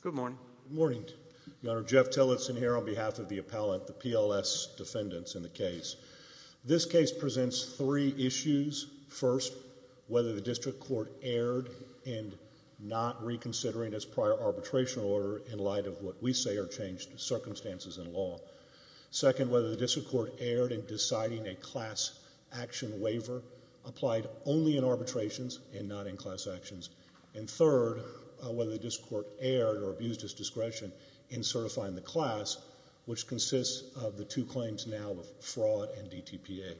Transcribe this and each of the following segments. Good morning, Your Honor. Jeff Tillotson here on behalf of the appellant, the PLS defendants in the case. This case presents three issues. First, whether the district court erred in not reconsidering its prior arbitration order in light of what we say are changed circumstances in law. Second, whether the district court erred in deciding a class action waiver applied only in arbitrations and not in class actions. And third, whether the district court erred or abused its discretion in certifying the class, which consists of the two claims now of fraud and DTPA.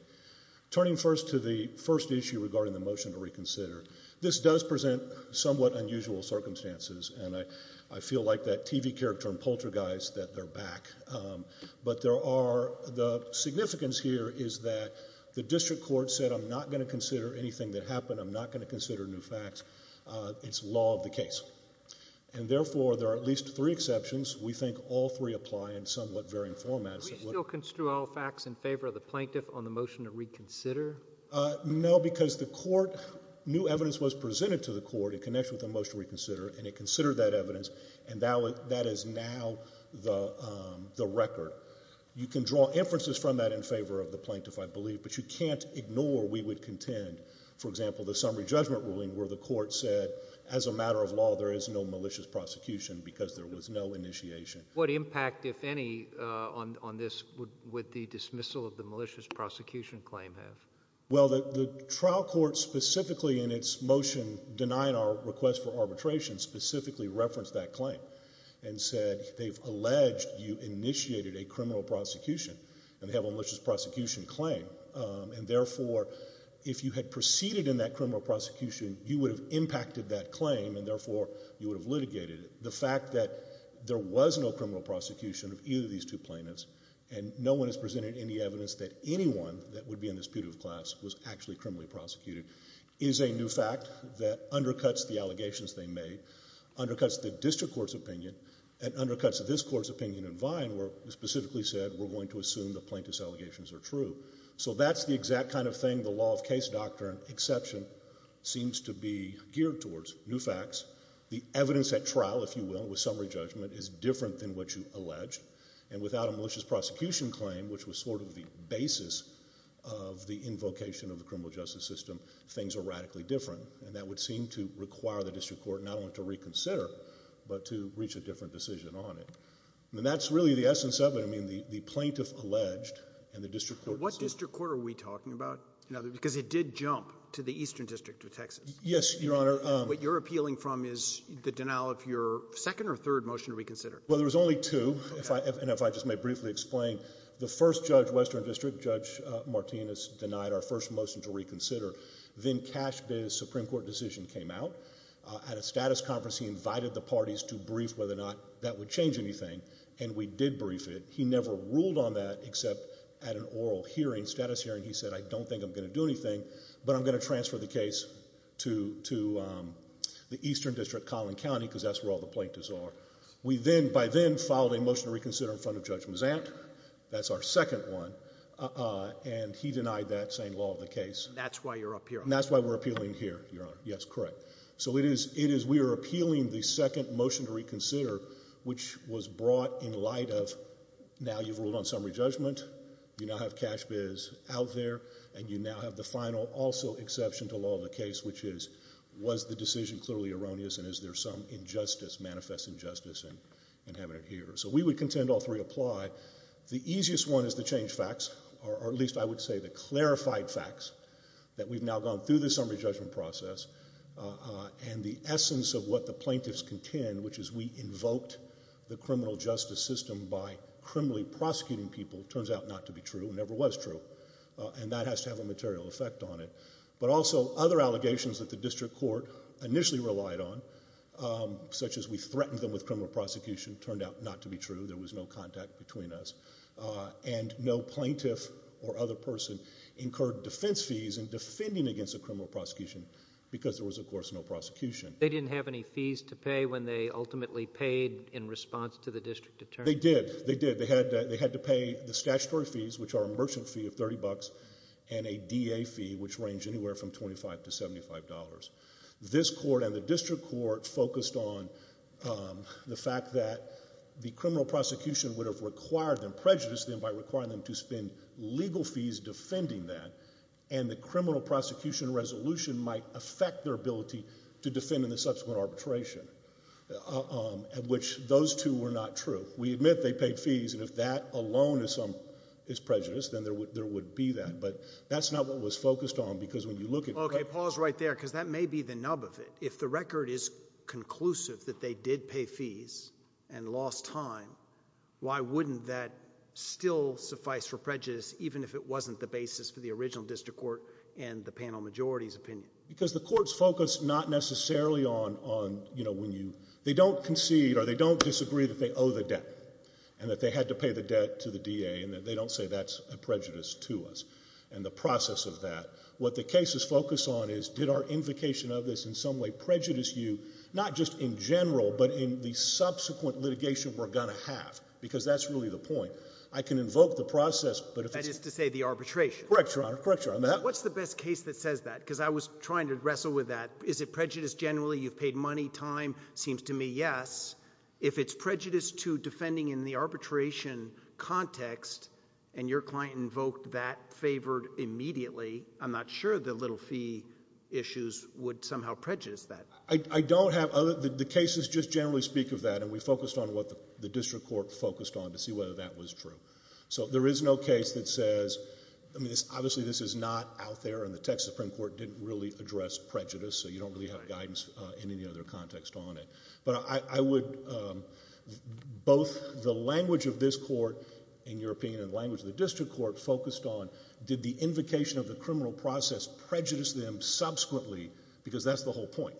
Turning first to the first issue regarding the motion to reconsider, this does present somewhat unusual circumstances, and I feel like that TV character in Poltergeist that they're back. But there are, the significance here is that the district court said, I'm not going to consider anything that happened, I'm not going to consider new facts, it's law of the case. And therefore, there are at least three exceptions. We think all three apply in somewhat varying formats. Can we still construe all facts in favor of the plaintiff on the motion to reconsider? No, because the court, new evidence was presented to the court in connection with the motion to reconsider, and it considered that evidence, and that is now the record. You can draw inferences from that in favor of the plaintiff, I believe, but you can't ignore, we would contend, for example, the summary judgment ruling where the court said, as a matter of law, there is no malicious prosecution because there was no initiation. What impact, if any, on this would the dismissal of the malicious prosecution claim have? Well, the trial court specifically in its motion denying our request for arbitration specifically referenced that claim and said they've alleged you initiated a criminal prosecution and have a malicious prosecution claim, and therefore, if you had proceeded in that criminal prosecution, you would have impacted that claim, and therefore, you would have litigated it. The fact that there was no criminal prosecution of either of these two plaintiffs, and no one has presented any evidence that anyone that would be in this putative class was actually criminally prosecuted, is a new fact that undercuts the allegations they made, undercuts the district court's opinion, and undercuts this court's opinion in Vine where it specifically said we're going to assume the plaintiff's allegations are true. So that's the exact kind of thing the law of case doctrine exception seems to be geared towards, new facts. The evidence at trial, if you will, with summary judgment is different than what you allege, and without a malicious prosecution claim, which was sort of the basis of the invocation of the criminal justice system, things are radically different, and that would seem to require the district court not only to reconsider, but to reach a different decision on it. And that's really the essence of it. I mean, the plaintiff alleged, and the district court decided. What district court are we talking about? Because it did jump to the Eastern District of Texas. Yes, Your Honor. What you're appealing from is the denial of your second or third motion to reconsider. Well, there was only two, and if I just may briefly explain. The first judge, Western District, Judge Martinez, denied our first motion to reconsider. Then Cash Bay's Supreme Court decision came out. At a status conference, he invited the parties to brief whether or not that would change anything, and we did brief it. He never ruled on that except at an oral hearing, status hearing. He said, I don't think I'm going to do anything, but I'm going to transfer the case to the Eastern District, Collin County, because that's where all the plaintiffs are. We then, by then, filed a motion to reconsider in front of Judge Mazant. That's our second one, and he denied that, saying law of the case. That's why you're up here. That's why we're appealing here, Your Honor. Yes, correct. So it is, we are appealing the second motion to reconsider, which was brought in light of, now you've ruled on summary judgment, you now have Cash Bay's out there, and you now have the final, also, exception to law of the case, which is, was the decision clearly erroneous, and is there some injustice, manifest injustice in having it here? So we would contend all three apply. The easiest one is to change facts, or at least I would say the clarified facts, that we've now gone through the summary judgment process, and the essence of what the plaintiffs contend, which is we invoked the criminal justice system by criminally prosecuting people, turns out not to be true, never was true, and that has to have a material effect on it. But also, other allegations that the district court initially relied on, such as we threatened them with criminal prosecution, turned out not to be true, there was no contact between us, and no plaintiff or other person incurred defense fees in defending against a criminal prosecution, because there was, of course, no prosecution. They didn't have any fees to pay when they ultimately paid in response to the district attorney? They did. They did. They had to pay the statutory fees, which are a merchant fee of $30, and a DA fee, which ranged anywhere from $25 to $75. This court and the district court focused on the fact that the criminal prosecution would have required them, prejudiced them by requiring them to spend legal fees defending that, and the criminal prosecution resolution might affect their ability to defend in the subsequent arbitration, which those two were not true. We admit they paid fees, and if that alone is prejudiced, then there would be that, but that's not what was focused on, because when you look at... Okay, pause right there, because that may be the nub of it. If the record is conclusive that they did pay fees and lost time, why wouldn't that still suffice for prejudice, even if it wasn't the basis for the original district court and the panel majority's opinion? Because the court's focused not necessarily on, you know, when you, they don't concede or they don't disagree that they owe the debt, and that they had to pay the debt to the DA, and that they don't say that's a prejudice to us, and the process of that. What the cases focus on is, did our invocation of this in some way prejudice you, not just in general, but in the subsequent litigation we're going to have, because that's really the point. I can invoke the process, but if it's... That is to say the arbitration. Correct, Your Honor. Correct, Your Honor. What's the best case that says that, because I was trying to wrestle with that. Is it that, if it's prejudice to defending in the arbitration context, and your client invoked that, favored immediately, I'm not sure the little fee issues would somehow prejudice that. I don't have other, the cases just generally speak of that, and we focused on what the district court focused on to see whether that was true. So there is no case that says, I mean, obviously this is not out there, and the Texas Supreme Court didn't really address prejudice, so you don't really have guidance in any other context on it. But I would, both the language of this court in European and the language of the district court focused on, did the invocation of the criminal process prejudice them subsequently, because that's the whole point.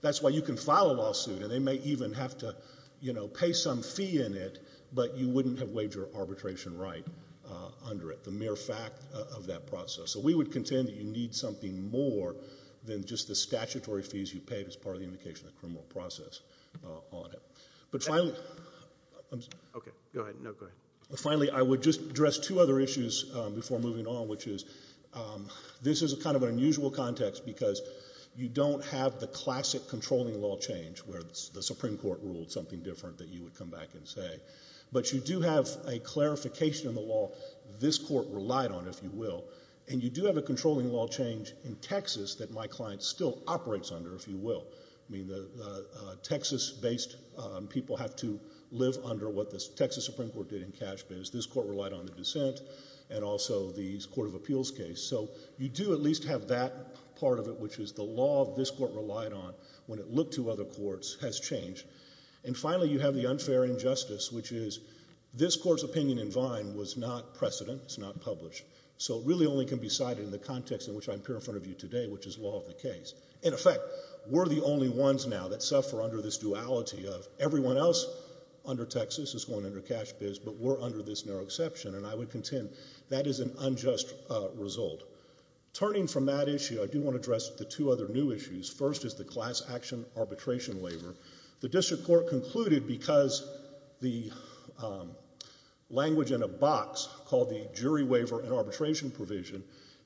That's why you can file a lawsuit, and they may even have to pay some fee in it, but you wouldn't have waived your arbitration right under it, the mere fact of that process. So we would contend that you need something more than just the statutory fees you paid as part of the invocation of the criminal process on it. But finally, I would just address two other issues before moving on, which is, this is kind of an unusual context, because you don't have the classic controlling law change, where the Supreme Court ruled something different that you would come back and say. But you do have a clarification of the law this court relied on, if you will, and you do have a controlling law change in Texas that my client still operates under, if you will. I mean, Texas-based people have to live under what the Texas Supreme Court did in cash bids. This court relied on the dissent, and also the Court of Appeals case. So you do at least have that part of it, which is the law this court relied on when it looked to other courts has changed. And finally, you have the unfair injustice, which is, this court's opinion in Vine was not precedent. It's not published. So it really only can be cited in the context in which I'm here in front of you today, which is law of the case. In effect, we're the only ones now that suffer under this duality of everyone else under Texas is going under cash bids, but we're under this narrow exception, and I would contend that is an unjust result. Turning from that issue, I do want to address the two other new issues. First is the class action arbitration waiver. The district court concluded because the language in a box called the jury waiver and arbitration provision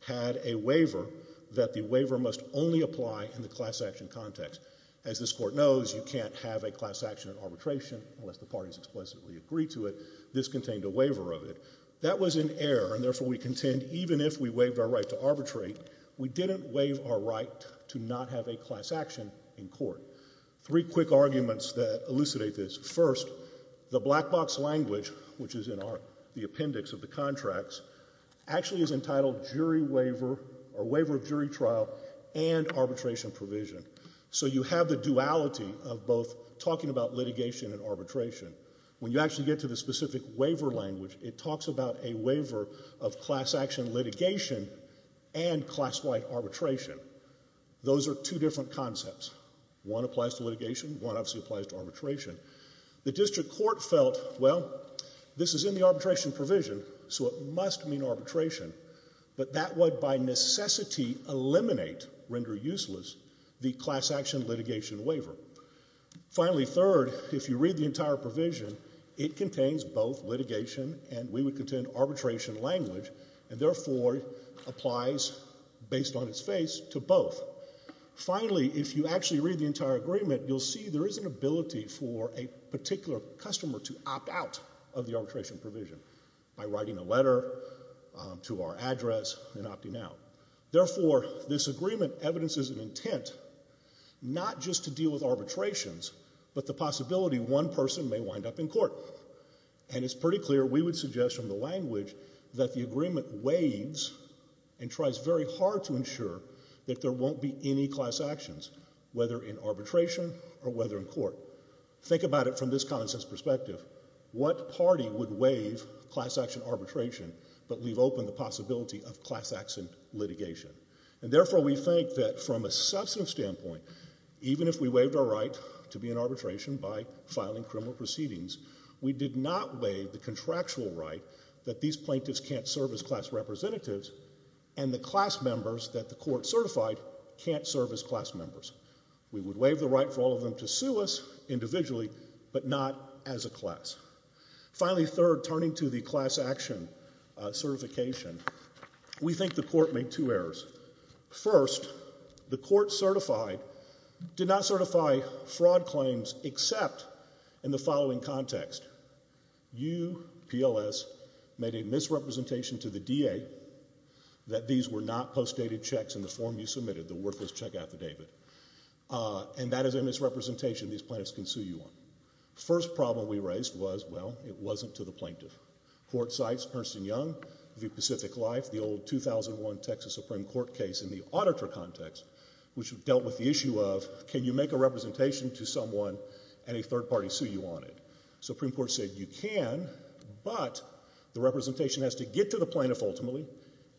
had a waiver that the waiver must only apply in the class action context. As this court knows, you can't have a class action arbitration unless the parties explicitly agree to it. This contained a waiver of it. That was in error, and therefore we contend even if we waived our right to arbitrate, we didn't waive our right to not have a class action in court. Three quick arguments that elucidate this. First, the black box language, which is in the appendix of the contracts, actually is entitled jury waiver or waiver of jury trial and arbitration provision. So you have the duality of both talking about litigation and arbitration. When you actually get to the specific waiver language, it talks about a waiver of class action litigation and class like arbitration. Those are two different concepts. One applies to litigation, one obviously applies to arbitration. The district court felt, well, this is in the arbitration provision, so it must mean arbitration, but that would by necessity eliminate, render useless, the class action litigation waiver. Finally, third, if you read the entire provision, it contains both litigation and we would contend arbitration language, and therefore applies based on its face to both. Finally, if you actually read the entire agreement, you'll see there is an ability for a particular customer to opt out of the arbitration provision by writing a letter to our address and opting out. Therefore, this agreement evidences an intent not just to deal with arbitrations, but the possibility one person may wind up in court. And it's pretty clear we would suggest from the language that the agreement waives and tries very hard to ensure that there won't be any class actions, whether in arbitration or whether in court. Think about it from this common sense perspective. What party would waive class action arbitration but leave open the possibility of class action litigation? And therefore we think that from a substantive standpoint, even if we waived our right to be in arbitration by filing criminal proceedings, we did not waive the contractual right that these plaintiffs can't serve as class representatives and the class members that the court certified can't serve as class members. We would waive the right for all of them to sue us individually but not as a class. Finally, third, turning to the class action certification, we think the court made two errors. First, the court certified did not certify fraud claims except in the following context. You, PLS, made a misrepresentation to the DA that these were not postdated checks in the form you submitted, the worthless check affidavit. And that is a misrepresentation these plaintiffs can sue you on. First problem we raised was, well, it wasn't to the plaintiff. Court cites Ernst & Young v. Pacific Life, the old 2001 Texas Supreme Court case in the auditor context, which dealt with the issue of can you make a representation to someone and a third party sue you on it? Supreme Court said you can, but the representation has to get to the plaintiff ultimately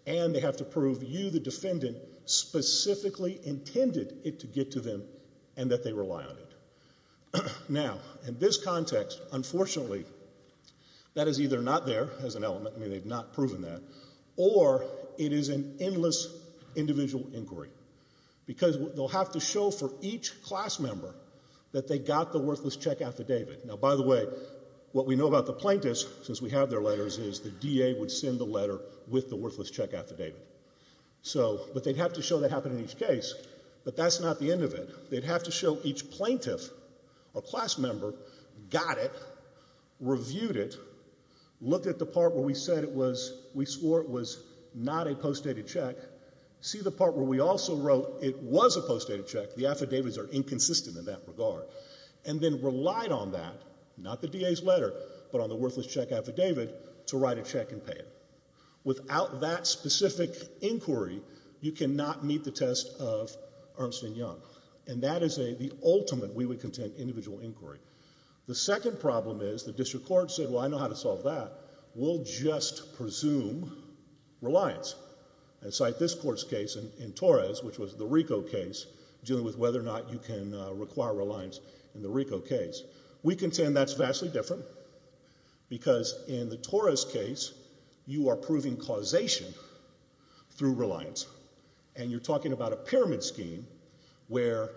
and they have to prove you, the defendant, specifically intended it to get to them and that they rely on it. Now, in this context, unfortunately, that is either not there as an element, I mean they've not proven that, or it is an endless individual inquiry because they'll have to show for each class member that they got the worthless check affidavit. Now, by the way, what we know about the plaintiffs, since we have their letters, is the DA would send the letter with the worthless check affidavit. So, but they'd have to show that happened in each case, but that's not the end of it. They'd have to show each plaintiff or class member got it, reviewed it, looked at the part where we said it was, we swore it was not a postdated check, see the part where we also wrote it was a postdated check, the affidavits are inconsistent in that regard, and then relied on that, not the DA's letter, but on the worthless check affidavit to write a check and pay it. Without that specific inquiry, you cannot meet the test of Ernst and Young, and that is the ultimate we would contend individual inquiry. The second problem is the district court said, well, I know how to solve that, we'll just presume reliance and cite this court's case in Torres, which was the RICO case, dealing with whether or not you can require reliance in the RICO case. We contend that's vastly different, because in the Torres case, you are proving causation through reliance, and you're talking about a pyramid scheme where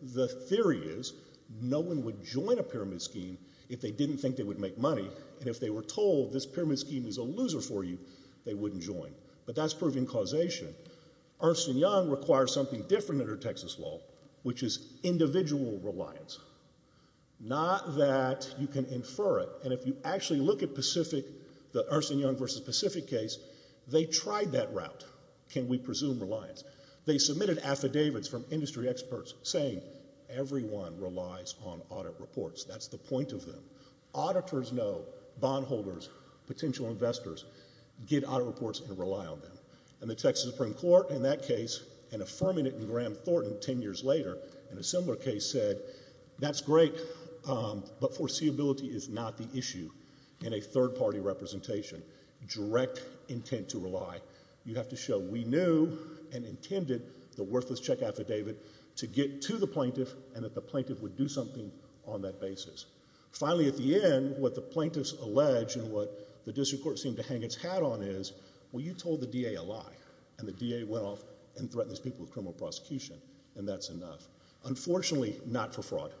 the theory is no one would join a pyramid scheme if they didn't think they would make money, and if they were told this pyramid scheme is a loser for you, they wouldn't join. But that's proving causation. Ernst and Young require something different under Texas law, which is individual reliance. Not that you can infer it, and if you actually look at the Ernst and Young v. Pacific case, they tried that route, can we presume reliance. They submitted affidavits from industry experts saying everyone relies on audit reports, that's the point of them. Auditors know, bondholders, potential investors, get audit reports and rely on them. And the Texas Supreme Court in that case, and affirming it in Graham Thornton ten years later in a similar case, said that's great, but foreseeability is not the issue in a third-party representation. Direct intent to rely. You have to show we knew and intended the worthless check affidavit to get to the plaintiff, and that the plaintiff would do something on that basis. Finally at the end, what the plaintiffs allege and what the district court seemed to hang its hat on is, well you told the DA a lie, and the DA went off and threatened these people with criminal prosecution, and that's enough. Unfortunately, not for fraud,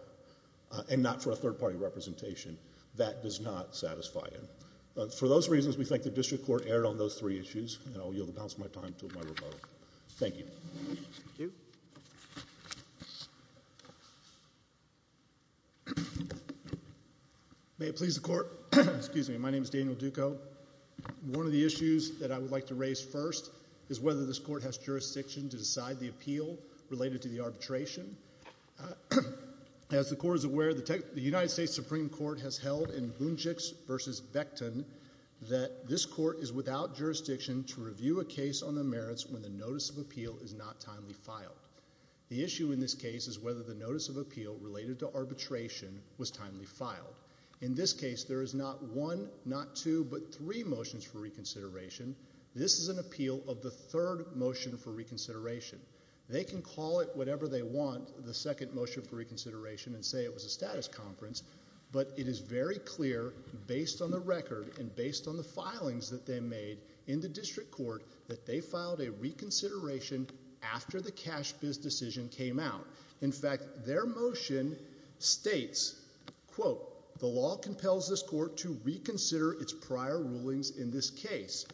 and not for a third-party representation. That does not satisfy him. For those reasons we think the district court erred on those three issues, and I'll yield the balance of time to my rebuttal. Thank you. May it please the Court. Excuse me. My name is Daniel Duco. One of the issues that I would like to raise first is whether this Court has jurisdiction to decide the appeal related to the arbitration. As the Court is aware, the United States Supreme Court has held in Boonchicks v. Becton that this Court is without jurisdiction to review a case on the merits when the notice of appeal is not timely filed. The issue in this case is whether the notice of appeal related to arbitration was timely filed. In this case, there is not one, not two, but three motions for reconsideration. This is an appeal of the third motion for reconsideration. They can call it whatever they want, the second motion for reconsideration, and say it was a status conference, but it is very clear based on the record and based on the filings that they made in the district court that they filed a reconsideration after the cash biz decision came out. In fact, their motion states, quote, the law compels this Court to reconsider its prior rulings in this case.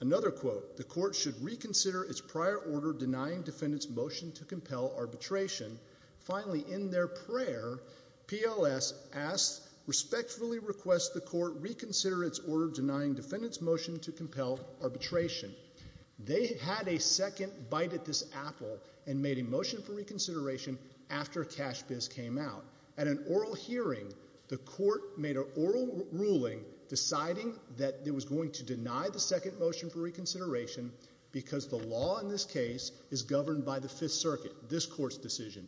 Another quote, the Court should reconsider its prior order denying defendants motion to compel arbitration. Finally, in their prayer, PLS asked, respectfully request the Court reconsider its order denying defendants motion to compel arbitration. They had a second bite at this apple and made a motion for reconsideration after cash biz came out. At an oral hearing, the Court made an oral ruling deciding that it was going to deny the second motion for decision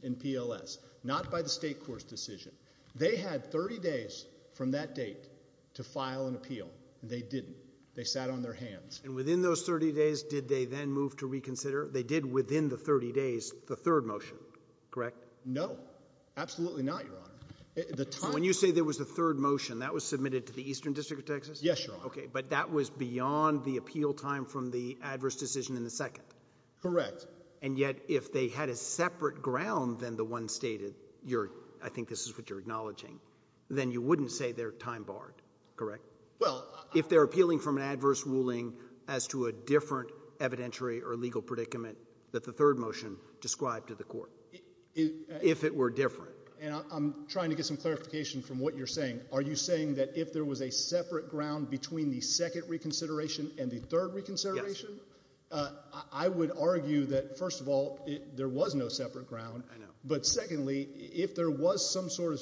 in PLS, not by the state court's decision. They had 30 days from that date to file an appeal, and they didn't. They sat on their hands. And within those 30 days, did they then move to reconsider? They did within the 30 days the third motion, correct? No, absolutely not, Your Honor. When you say there was a third motion, that was submitted to the Eastern District of Texas? Yes, Your Honor. Okay, but that was beyond the appeal time from the adverse decision in the second? Correct. And yet, if they had a separate ground than the one stated, I think this is what you're acknowledging, then you wouldn't say they're time barred, correct? Well, I... If they're appealing from an adverse ruling as to a different evidentiary or legal predicament that the third motion described to the Court, if it were different. And I'm trying to get some clarification from what you're saying. Are you saying that if there was a separate ground between the second reconsideration and the third reconsideration? Yes. I would argue that, first of all, there was no separate ground. But secondly, if there was some sort of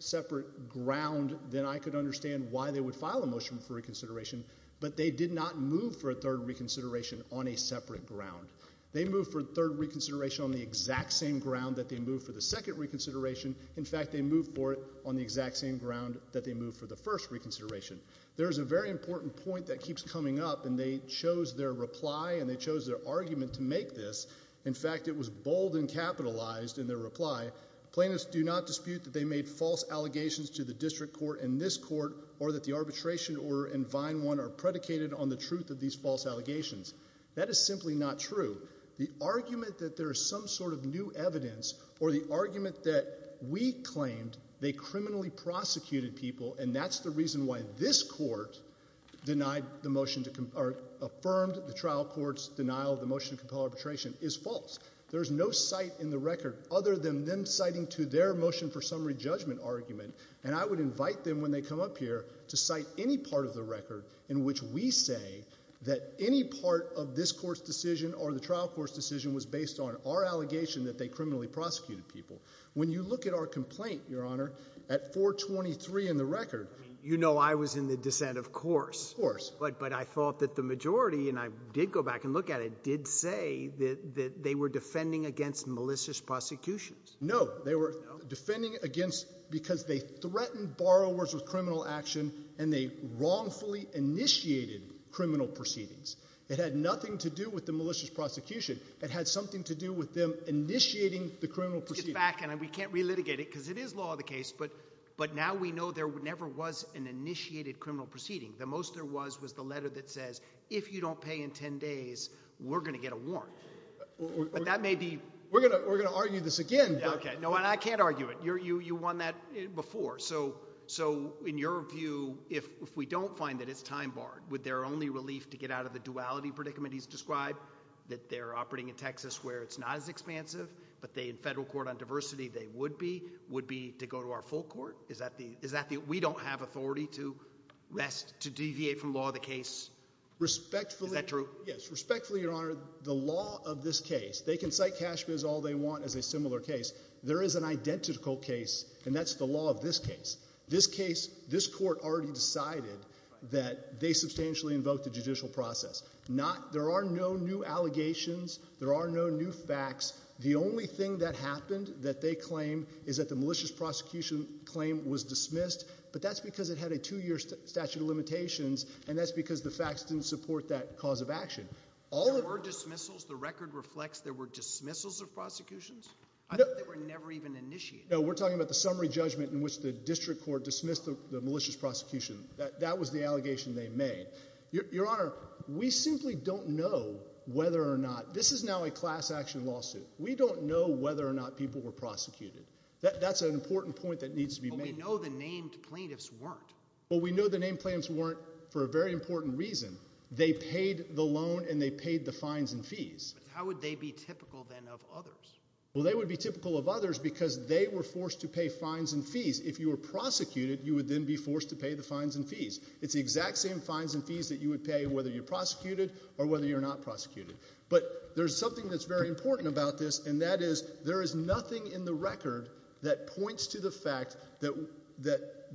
separate ground, then I could understand why they would file a motion for reconsideration. But they did not move for a third reconsideration on a separate ground. They moved for a third reconsideration on the exact same ground that they moved for the second reconsideration. In fact, they moved for it on the exact same ground that they moved for the first reconsideration. There's a very important point that keeps coming up, and they chose their reply and they chose their argument to make this. In fact, it was bold and capitalized in their reply. Plaintiffs do not dispute that they made false allegations to the district court and this court or that the arbitration order and Vine 1 are predicated on the truth of these false allegations. That is simply not true. The argument that there is some sort of new evidence or the argument that we claimed they this court denied the motion or affirmed the trial court's denial of the motion to compel arbitration is false. There's no cite in the record other than them citing to their motion for summary judgment argument. And I would invite them when they come up here to cite any part of the record in which we say that any part of this court's decision or the trial court's decision was based on our allegation that they criminally prosecuted people. When you look at our complaint, Your Honor, at 423 in the record. You know I was in the dissent, of course, but I thought that the majority, and I did go back and look at it, did say that they were defending against malicious prosecutions. No, they were defending against because they threatened borrowers with criminal action and they wrongfully initiated criminal proceedings. It had nothing to do with the malicious prosecution. It had something to do with them initiating the criminal proceedings. It's a fact and we can't relitigate it because it is law of the case, but now we know there never was an initiated criminal proceeding. The most there was was the letter that says, if you don't pay in ten days, we're going to get a warrant. But that may be. We're going to argue this again. Okay. No, and I can't argue it. You won that before. So in your view, if we don't find that it's time barred, would their only relief to get out of the duality predicament he's described, that they're operating in Texas where it's not as expansive, but they in federal court on diversity they would be, would be to go to our full court? Is that the, is that the, we don't have authority to rest, to deviate from law of the case. Respectfully. Is that true? Yes. Respectfully, your honor, the law of this case, they can cite cash is all they want as a similar case. There is an identical case and that's the law of this case. This case, this court already decided that they substantially invoked the judicial process. Not, there are no new allegations. There are no new facts. The only thing that happened that they claim is that the malicious prosecution claim was dismissed, but that's because it had a two year statute of limitations and that's because the facts didn't support that cause of action. All of our dismissals, the record reflects there were dismissals of prosecutions that were never even initiated. No, we're talking about the summary judgment in which the district court dismissed the malicious prosecution that that was the allegation they made your honor. We simply don't know whether or not. This is now a class action lawsuit. We don't know whether or not people were prosecuted. That's an important point that needs to be made. We know the named plaintiffs weren't, but we know the name plans weren't for a very important reason. They paid the loan and they paid the fines and fees. How would they be typical then of others? Well, they would be typical of others because they were forced to pay fines and fees. If you were prosecuted, you would then be forced to pay the fines and fees. It's the exact same fines and fees that you would pay whether you're prosecuted or whether you're not prosecuted. But there's something that's very important about this and that is there is nothing in the record that points to the fact that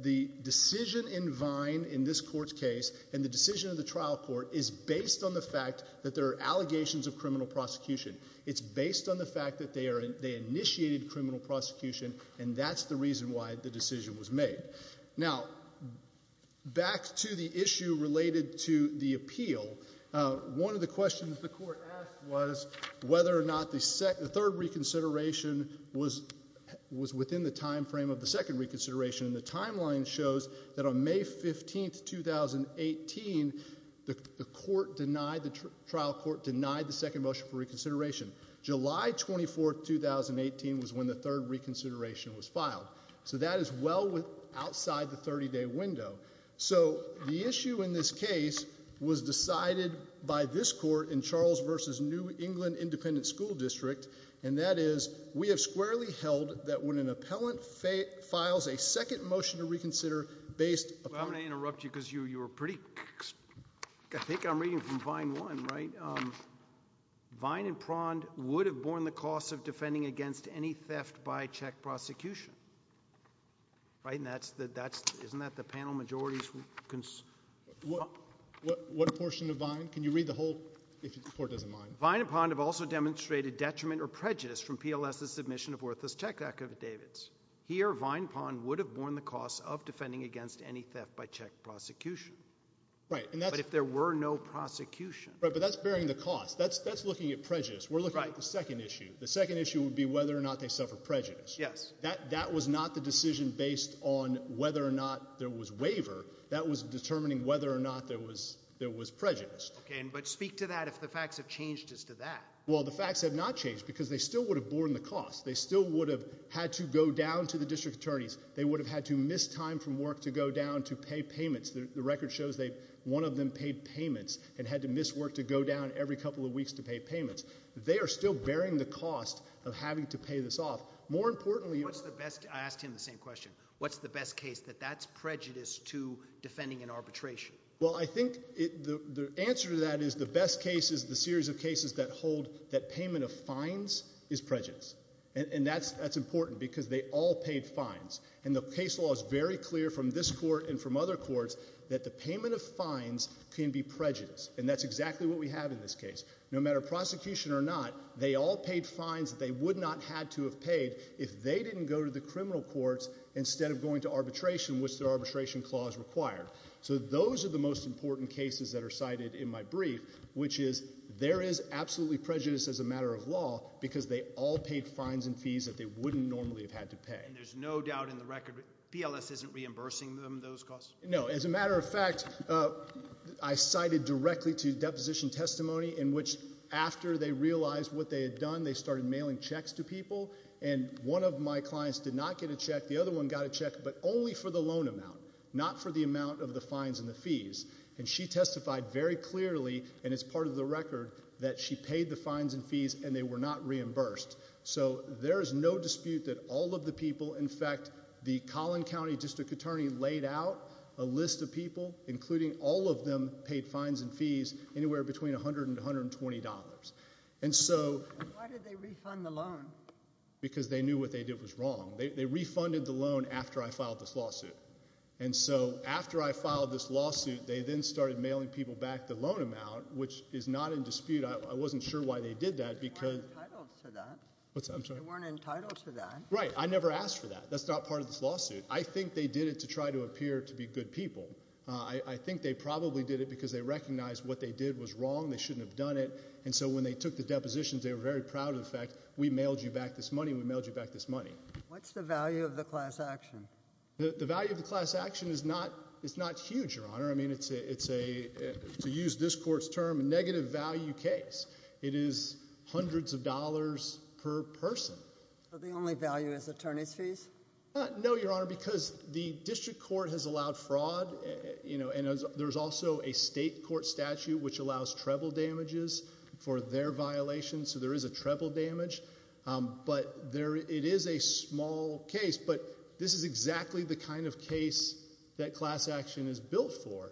the decision in Vine in this court's case and the decision of the trial court is based on the fact that there are allegations of criminal prosecution. It's based on the fact that they initiated criminal prosecution and that's the reason why the decision was made. Now, back to the issue related to the appeal, one of the questions the court asked was whether or not the third reconsideration was within the time frame of the second reconsideration. The timeline shows that on May 15, 2018, the trial court denied the second motion for reconsideration. July 24, 2018 was when the third reconsideration was filed. So that is well outside the 30-day window. So the issue in this case was decided by this court in Charles v. New England Independent School District and that is we have squarely held that when an appellant files a second motion to reconsider based upon- I'm going to interrupt you because you were pretty- I think I'm reading from Vine 1, right? Vine and Pond would have borne the cost of defending against any theft by check prosecution. Right? And that's- isn't that the panel majority's- What portion of Vine? Can you read the whole- if the court doesn't mind? Vine and Pond have also demonstrated detriment or prejudice from PLS's submission of worthless check affidavits. Here Vine and Pond would have borne the cost of defending against any theft by check prosecution. Right. But if there were no prosecution- Right, but that's bearing the cost. That's looking at prejudice. We're looking at the second issue. The second issue would be whether or not they suffer prejudice. That was not the decision based on whether or not there was waiver. That was determining whether or not there was prejudice. But speak to that if the facts have changed as to that. Well, the facts have not changed because they still would have borne the cost. They still would have had to go down to the district attorneys. They would have had to miss time from work to go down to pay payments. The record shows one of them paid payments and had to miss work to go down every couple of weeks to pay payments. They are still bearing the cost of having to pay this off. More importantly- What's the best- I asked him the same question. What's the best case that that's prejudice to defending an arbitration? Well, I think the answer to that is the best case is the series of cases that hold that payment of fines is prejudice. And that's important because they all paid fines. And the case law is very clear from this court and from other courts that the payment of fines can be prejudice. And that's exactly what we have in this case. No matter prosecution or not, they all paid fines that they would not have to have paid if they didn't go to the criminal courts instead of going to arbitration, which the arbitration clause required. So those are the most important cases that are cited in my brief, which is there is absolutely prejudice as a matter of law because they all paid fines and fees that they wouldn't normally have had to pay. And there's no doubt in the record, PLS isn't reimbursing them those costs? No. As a matter of fact, I cited directly to deposition testimony in which after they realized what they had done, they started mailing checks to people. And one of my clients did not get a check. The other one got a check, but only for the loan amount, not for the amount of the fines and the fees. And she testified very clearly, and it's part of the record, that she paid the fines and fees and they were not reimbursed. So there is no dispute that all of the people, in fact, the Collin County District Attorney laid out a list of people, including all of them, paid fines and fees anywhere between $100 and $120. And so... Why did they refund the loan? Because they knew what they did was wrong. They refunded the loan after I filed this lawsuit. And so after I filed this lawsuit, they then started mailing people back the loan amount, which is not in dispute. I wasn't sure why they did that because... You weren't entitled to that. What's that? I'm sorry. You weren't entitled to that. Right. I never asked for that. That's not part of this lawsuit. I think they did it to try to appear to be good people. I think they probably did it because they recognized what they did was wrong, they shouldn't have done it. And so when they took the depositions, they were very proud of the fact, we mailed you back this money, we mailed you back this money. What's the value of the class action? The value of the class action is not huge, Your Honor. I mean, to use this court's term, a negative value case. It is hundreds of dollars per person. The only value is attorney's fees? No, Your Honor, because the district court has allowed fraud, and there's also a state court statute which allows treble damages for their violations. So there is a treble damage. But it is a small case. But this is exactly the kind of case that class action is built for.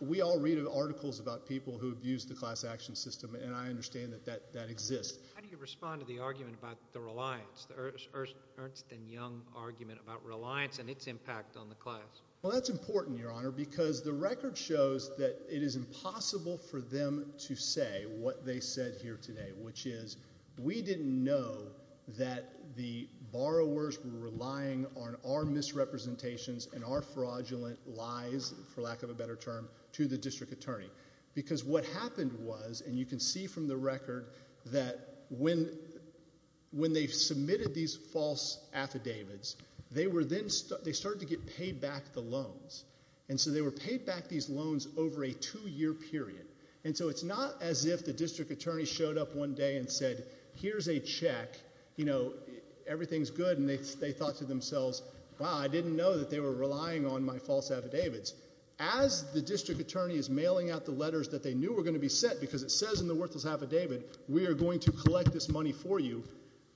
We all read articles about people who abuse the class action system, and I understand that that exists. How do you respond to the argument about the reliance, the Ernst and Young argument about reliance and its impact on the class? Well, that's important, Your Honor, because the record shows that it is impossible for the borrowers who are relying on our misrepresentations and our fraudulent lies, for lack of a better term, to the district attorney. Because what happened was, and you can see from the record, that when they submitted these false affidavits, they started to get paid back the loans. And so they were paid back these loans over a two-year period. And so it's not as if the district attorney showed up one day and said, here's a check, you know, everything's good, and they thought to themselves, wow, I didn't know that they were relying on my false affidavits. As the district attorney is mailing out the letters that they knew were going to be sent, because it says in the worthless affidavit, we are going to collect this money for you,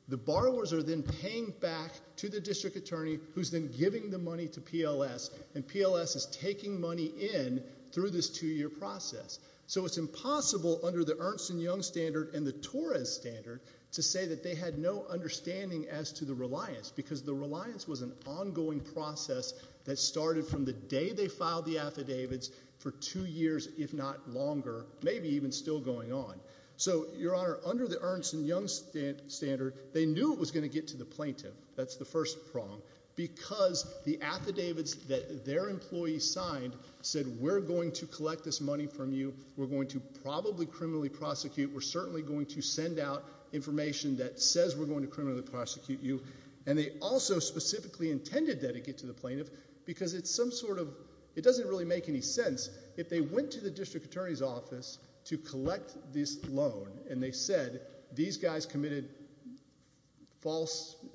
the borrowers are then paying back to the district attorney, who's then giving the money to PLS, and PLS is taking money in through this two-year process. So it's impossible under the Ernst & Young standard and the Torres standard to say that they had no understanding as to the reliance, because the reliance was an ongoing process that started from the day they filed the affidavits for two years, if not longer, maybe even still going on. So Your Honor, under the Ernst & Young standard, they knew it was going to get to the plaintiff. That's the first prong, because the affidavits that their employees signed said, we're going to collect this money from you, we're going to probably criminally prosecute, we're certainly going to send out information that says we're going to criminally prosecute you, and they also specifically intended that it get to the plaintiff, because it's some sort of, it doesn't really make any sense, if they went to the district attorney's office to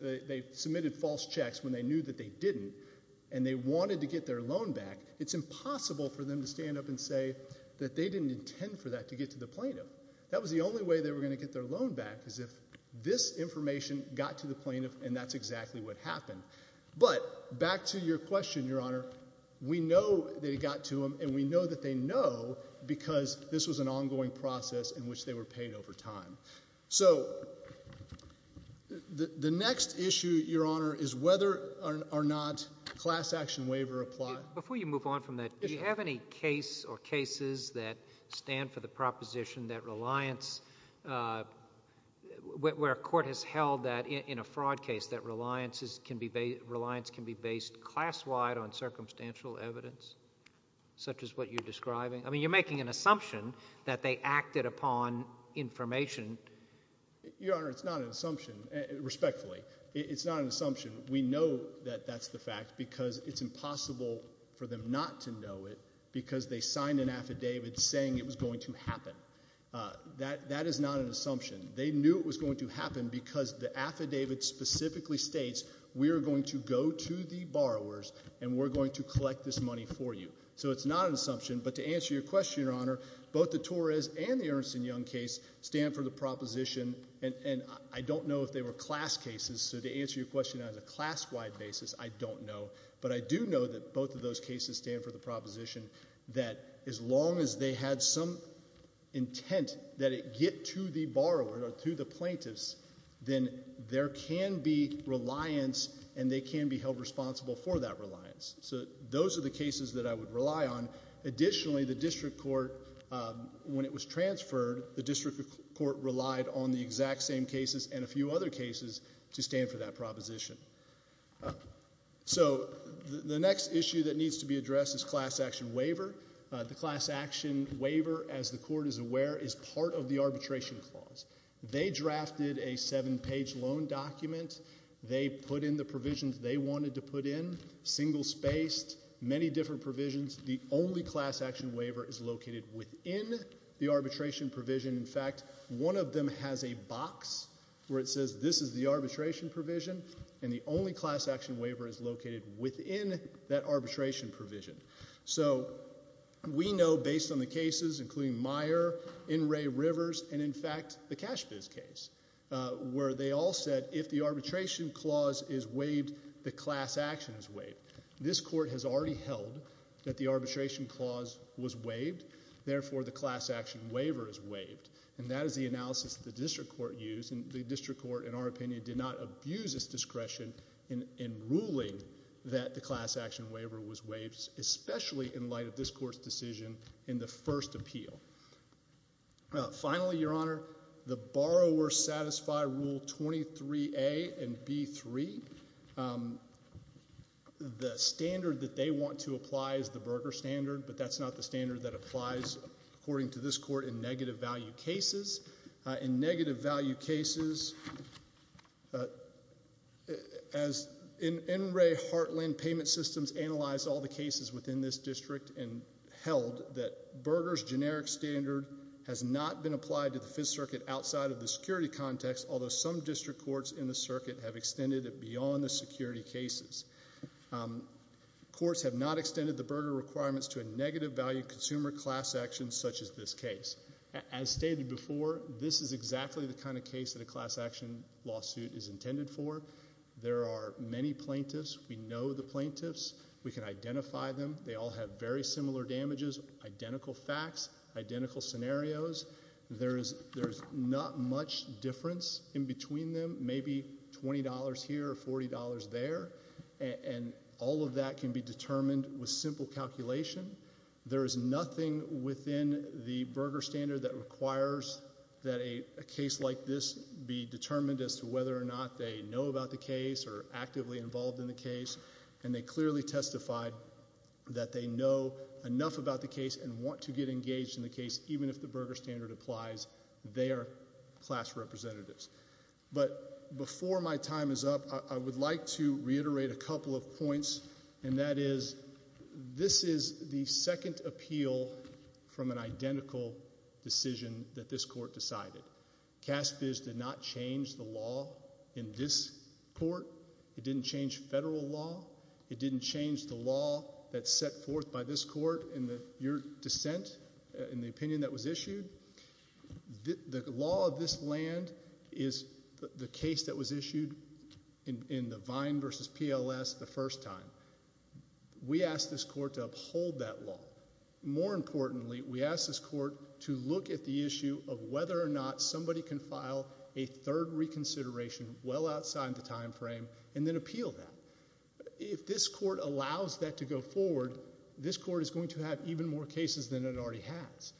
they submitted false checks when they knew that they didn't, and they wanted to get their loan back, it's impossible for them to stand up and say that they didn't intend for that to get to the plaintiff. That was the only way they were going to get their loan back, is if this information got to the plaintiff, and that's exactly what happened. But back to your question, Your Honor, we know that it got to them, and we know that they know, because this was an ongoing process in which they were paid over time. So the next issue, Your Honor, is whether or not class action waiver applied. Before you move on from that, do you have any case or cases that stand for the proposition that reliance, where a court has held that in a fraud case, that reliance can be based class-wide on circumstantial evidence, such as what you're describing? I mean, you're making an assumption that they acted upon information. Your Honor, it's not an assumption, respectfully. It's not an assumption. We know that that's the fact, because it's impossible for them not to know it, because they signed an affidavit saying it was going to happen. That is not an assumption. They knew it was going to happen, because the affidavit specifically states, we are going to go to the borrowers, and we're going to collect this money for you. So it's not an assumption. But to answer your question, Your Honor, both the Torres and the Ernst and Young case stand for the proposition, and I don't know if they were class cases, so to answer your question on a class-wide basis, I don't know. But I do know that both of those cases stand for the proposition that as long as they had some intent that it get to the borrower or to the plaintiffs, then there can be reliance and they can be held responsible for that reliance. So those are the cases that I would rely on. Additionally, the district court, when it was transferred, the district court relied on the exact same cases and a few other cases to stand for that proposition. So the next issue that needs to be addressed is class action waiver. The class action waiver, as the court is aware, is part of the arbitration clause. They drafted a seven-page loan document. They put in the provisions they wanted to put in, single-spaced, many different provisions. The only class action waiver is located within the arbitration provision. In fact, one of them has a box where it says, this is the arbitration provision, and the only class action waiver is located within that arbitration provision. So we know, based on the cases, including Meyer, In Re Rivers, and in fact, the Cash Reimbursement Act, that the arbitration clause is waived, the class action is waived. This court has already held that the arbitration clause was waived, therefore the class action waiver is waived. And that is the analysis the district court used, and the district court, in our opinion, did not abuse its discretion in ruling that the class action waiver was waived, especially in light of this court's decision in the first appeal. Finally, Your Honor, the borrower satisfy Rule 23A and B3. The standard that they want to apply is the Berger standard, but that's not the standard that applies, according to this court, in negative value cases. In negative value cases, as In Re Heartland Payment Systems analyzed all the cases within this district and held that Berger's generic standard has not been applied to the Fifth Circuit outside of the security context, although some district courts in the circuit have extended it beyond the security cases. Courts have not extended the Berger requirements to a negative value consumer class action such as this case. As stated before, this is exactly the kind of case that a class action lawsuit is intended for. There are many plaintiffs. We know the plaintiffs. We can identify them. They all have very similar damages, identical facts, identical scenarios. There is not much difference in between them, maybe $20 here or $40 there, and all of that can be determined with simple calculation. There is nothing within the Berger standard that requires that a case like this be determined as to whether or not they know about the case or are actively involved in the case, and they clearly testified that they know enough about the case and want to get engaged in the case, even if the Berger standard applies. They are class representatives. But before my time is up, I would like to reiterate a couple of points, and that is, this is the second appeal from an identical decision that this court decided. CASBIS did not change the law in this court. It didn't change federal law. It didn't change the law that's set forth by this court in your dissent, in the opinion that was issued. The law of this land is the case that was issued in the Vine v. PLS the first time. We asked this court to uphold that law. More importantly, we asked this court to look at the issue of whether or not somebody can file a third reconsideration well outside the time frame and then appeal that. If this court allows that to go forward, this court is going to have even more cases than it already has.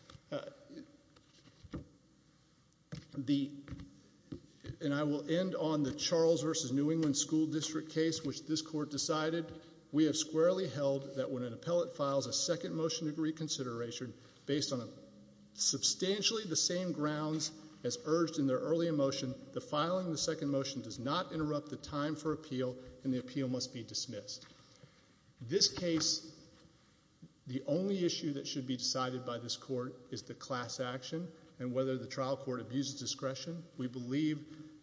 And I will end on the Charles v. New England School District case, which this court decided. We have squarely held that when an appellate files a second motion of reconsideration based on substantially the same grounds as urged in their early motion, the filing of the second motion does not interrupt the time for appeal, and the appeal must be dismissed. This case, the only issue that should be decided by this court is the class action and whether the trial court abuses discretion. We believe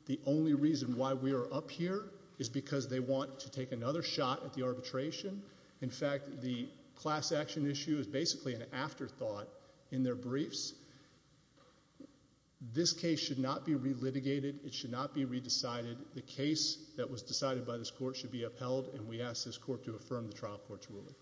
the only reason why we are up here is because they want to take another shot at the arbitration. In fact, the class action issue is basically an afterthought in their briefs. This case should not be re-litigated. It should not be re-decided. The case that was decided by this court should be upheld, and we ask this court to affirm the trial court's ruling.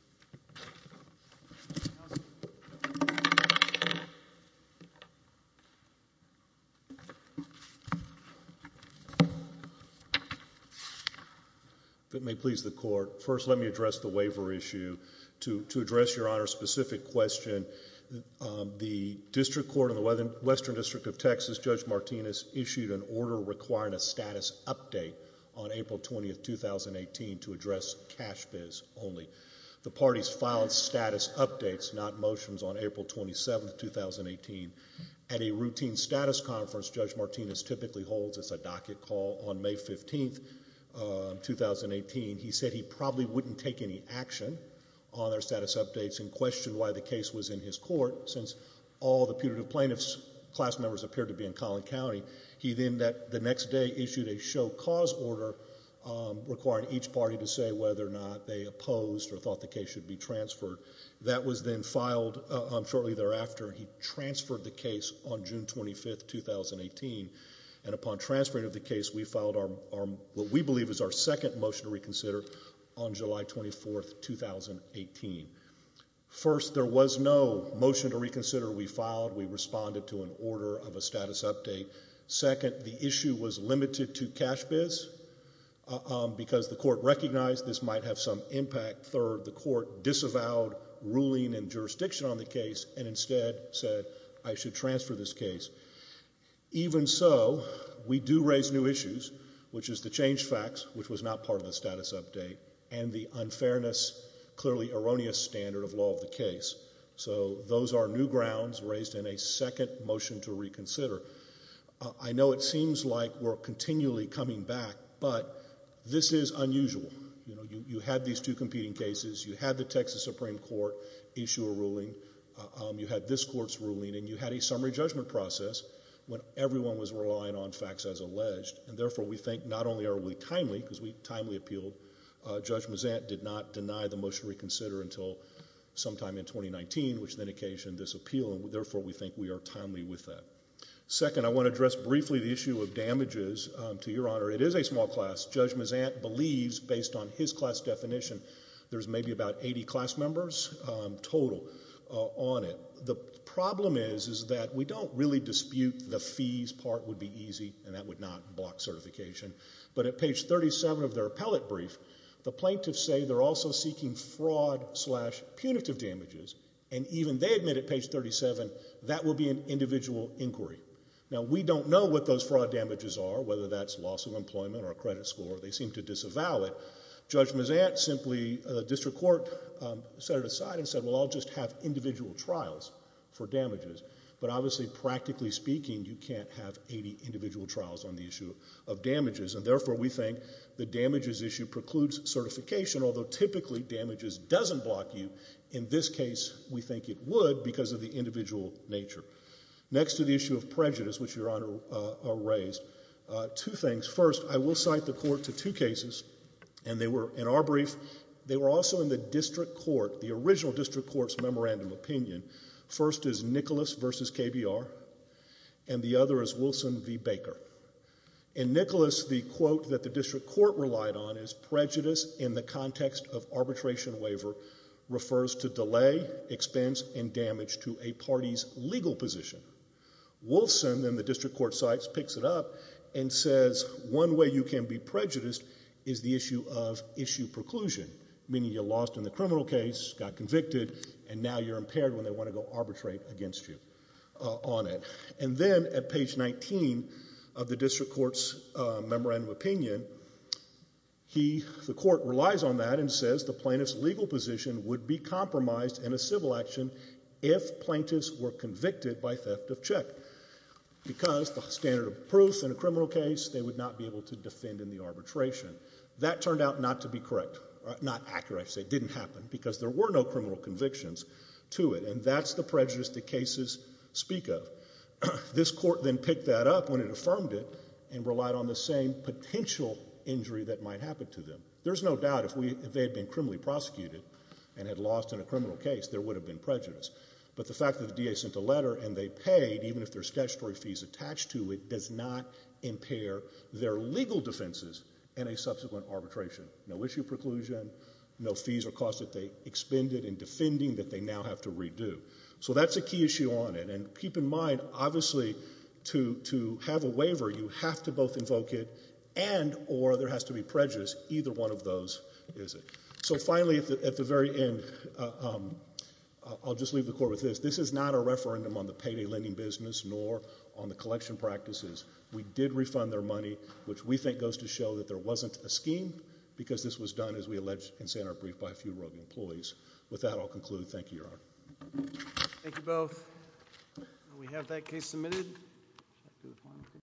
If it may please the court, first let me address the waiver issue. To address Your Honor's specific question, the District Court in the Western District of Texas, Judge Martinez, issued an order requiring a status update on April 20, 2018 to address cash bids only. The parties filed status updates, not motions, on April 27, 2018. At a routine status conference Judge Martinez typically holds, it's a docket call, on May 15, 2018, he said he probably wouldn't take any action on their status updates and questioned why the case was in his court since all the putative plaintiffs' class members appeared to be in Collin County. He then, the next day, issued a show cause order requiring each party to say whether or not they opposed or thought the case should be transferred. That was then filed shortly thereafter. He transferred the case on June 25, 2018, and upon transferring of the case, we filed what we believe is our second motion to reconsider on July 24, 2018. First, there was no motion to reconsider. We filed. We responded to an order of a status update. Second, the issue was limited to cash bids because the court recognized this might have some impact. Third, the court disavowed ruling and jurisdiction on the case and instead said, I should transfer this case. Even so, we do raise new issues, which is the change facts, which was not part of the status update, and the unfairness, clearly erroneous standard of law of the case. So those are new grounds raised in a second motion to reconsider. I know it seems like we're continually coming back, but this is unusual. You had these two competing cases. You had the Texas Supreme Court issue a ruling. You had this court's ruling, and you had a summary judgment process when everyone was relying on facts as alleged, and therefore, we think not only are we timely, because we are in 2019, which then occasioned this appeal, and therefore, we think we are timely with that. Second, I want to address briefly the issue of damages. To your honor, it is a small class. Judge Mazant believes, based on his class definition, there's maybe about 80 class members total on it. The problem is that we don't really dispute the fees part would be easy, and that would not block certification. But at page 37 of their appellate brief, the plaintiffs say they're also seeking fraud slash punitive damages, and even they admit at page 37 that would be an individual inquiry. Now, we don't know what those fraud damages are, whether that's loss of employment or a credit score. They seem to disavow it. Judge Mazant simply, district court, set it aside and said, well, I'll just have individual trials for damages. But obviously, practically speaking, you can't have 80 individual trials on the issue of damages, and therefore, we think the damages issue precludes certification, although typically damages doesn't block you. In this case, we think it would because of the individual nature. Next to the issue of prejudice, which your honor raised, two things. First, I will cite the court to two cases, and they were, in our brief, they were also in the district court, the original district court's memorandum opinion. First is Nicholas v. KBR, and the other is Wilson v. Baker. In Nicholas, the quote that the district court relied on is, prejudice in the context of arbitration waiver refers to delay, expense, and damage to a party's legal position. Wilson, in the district court cites, picks it up and says, one way you can be prejudiced is the issue of issue preclusion, meaning you lost in the criminal case, got convicted, and now you're impaired when they want to go arbitrate against you on it. And then, at page 19 of the district court's memorandum opinion, he, the court, relies on that and says the plaintiff's legal position would be compromised in a civil action if plaintiffs were convicted by theft of check, because the standard of proof in a criminal case, they would not be able to defend in the arbitration. That turned out not to be correct, not accurate, I should say, it didn't happen, because there were no criminal convictions to it, and that's the prejudice the cases speak of. This court then picked that up when it affirmed it, and relied on the same potential injury that might happen to them. There's no doubt if they had been criminally prosecuted and had lost in a criminal case, there would have been prejudice. But the fact that the DA sent a letter and they paid, even if there's statutory fees attached to it, does not impair their legal defenses in a subsequent arbitration. No issue preclusion, no fees or costs that they expended in defending that they now have to redo. So that's a key issue on it, and keep in mind, obviously, to have a waiver, you have to both is it. So finally, at the very end, I'll just leave the court with this. This is not a referendum on the payday lending business, nor on the collection practices. We did refund their money, which we think goes to show that there wasn't a scheme, because this was done, as we allege and say in our brief, by a few rogue employees. With that, I'll conclude. Thank you, Your Honor. Thank you both. And we have that case submitted.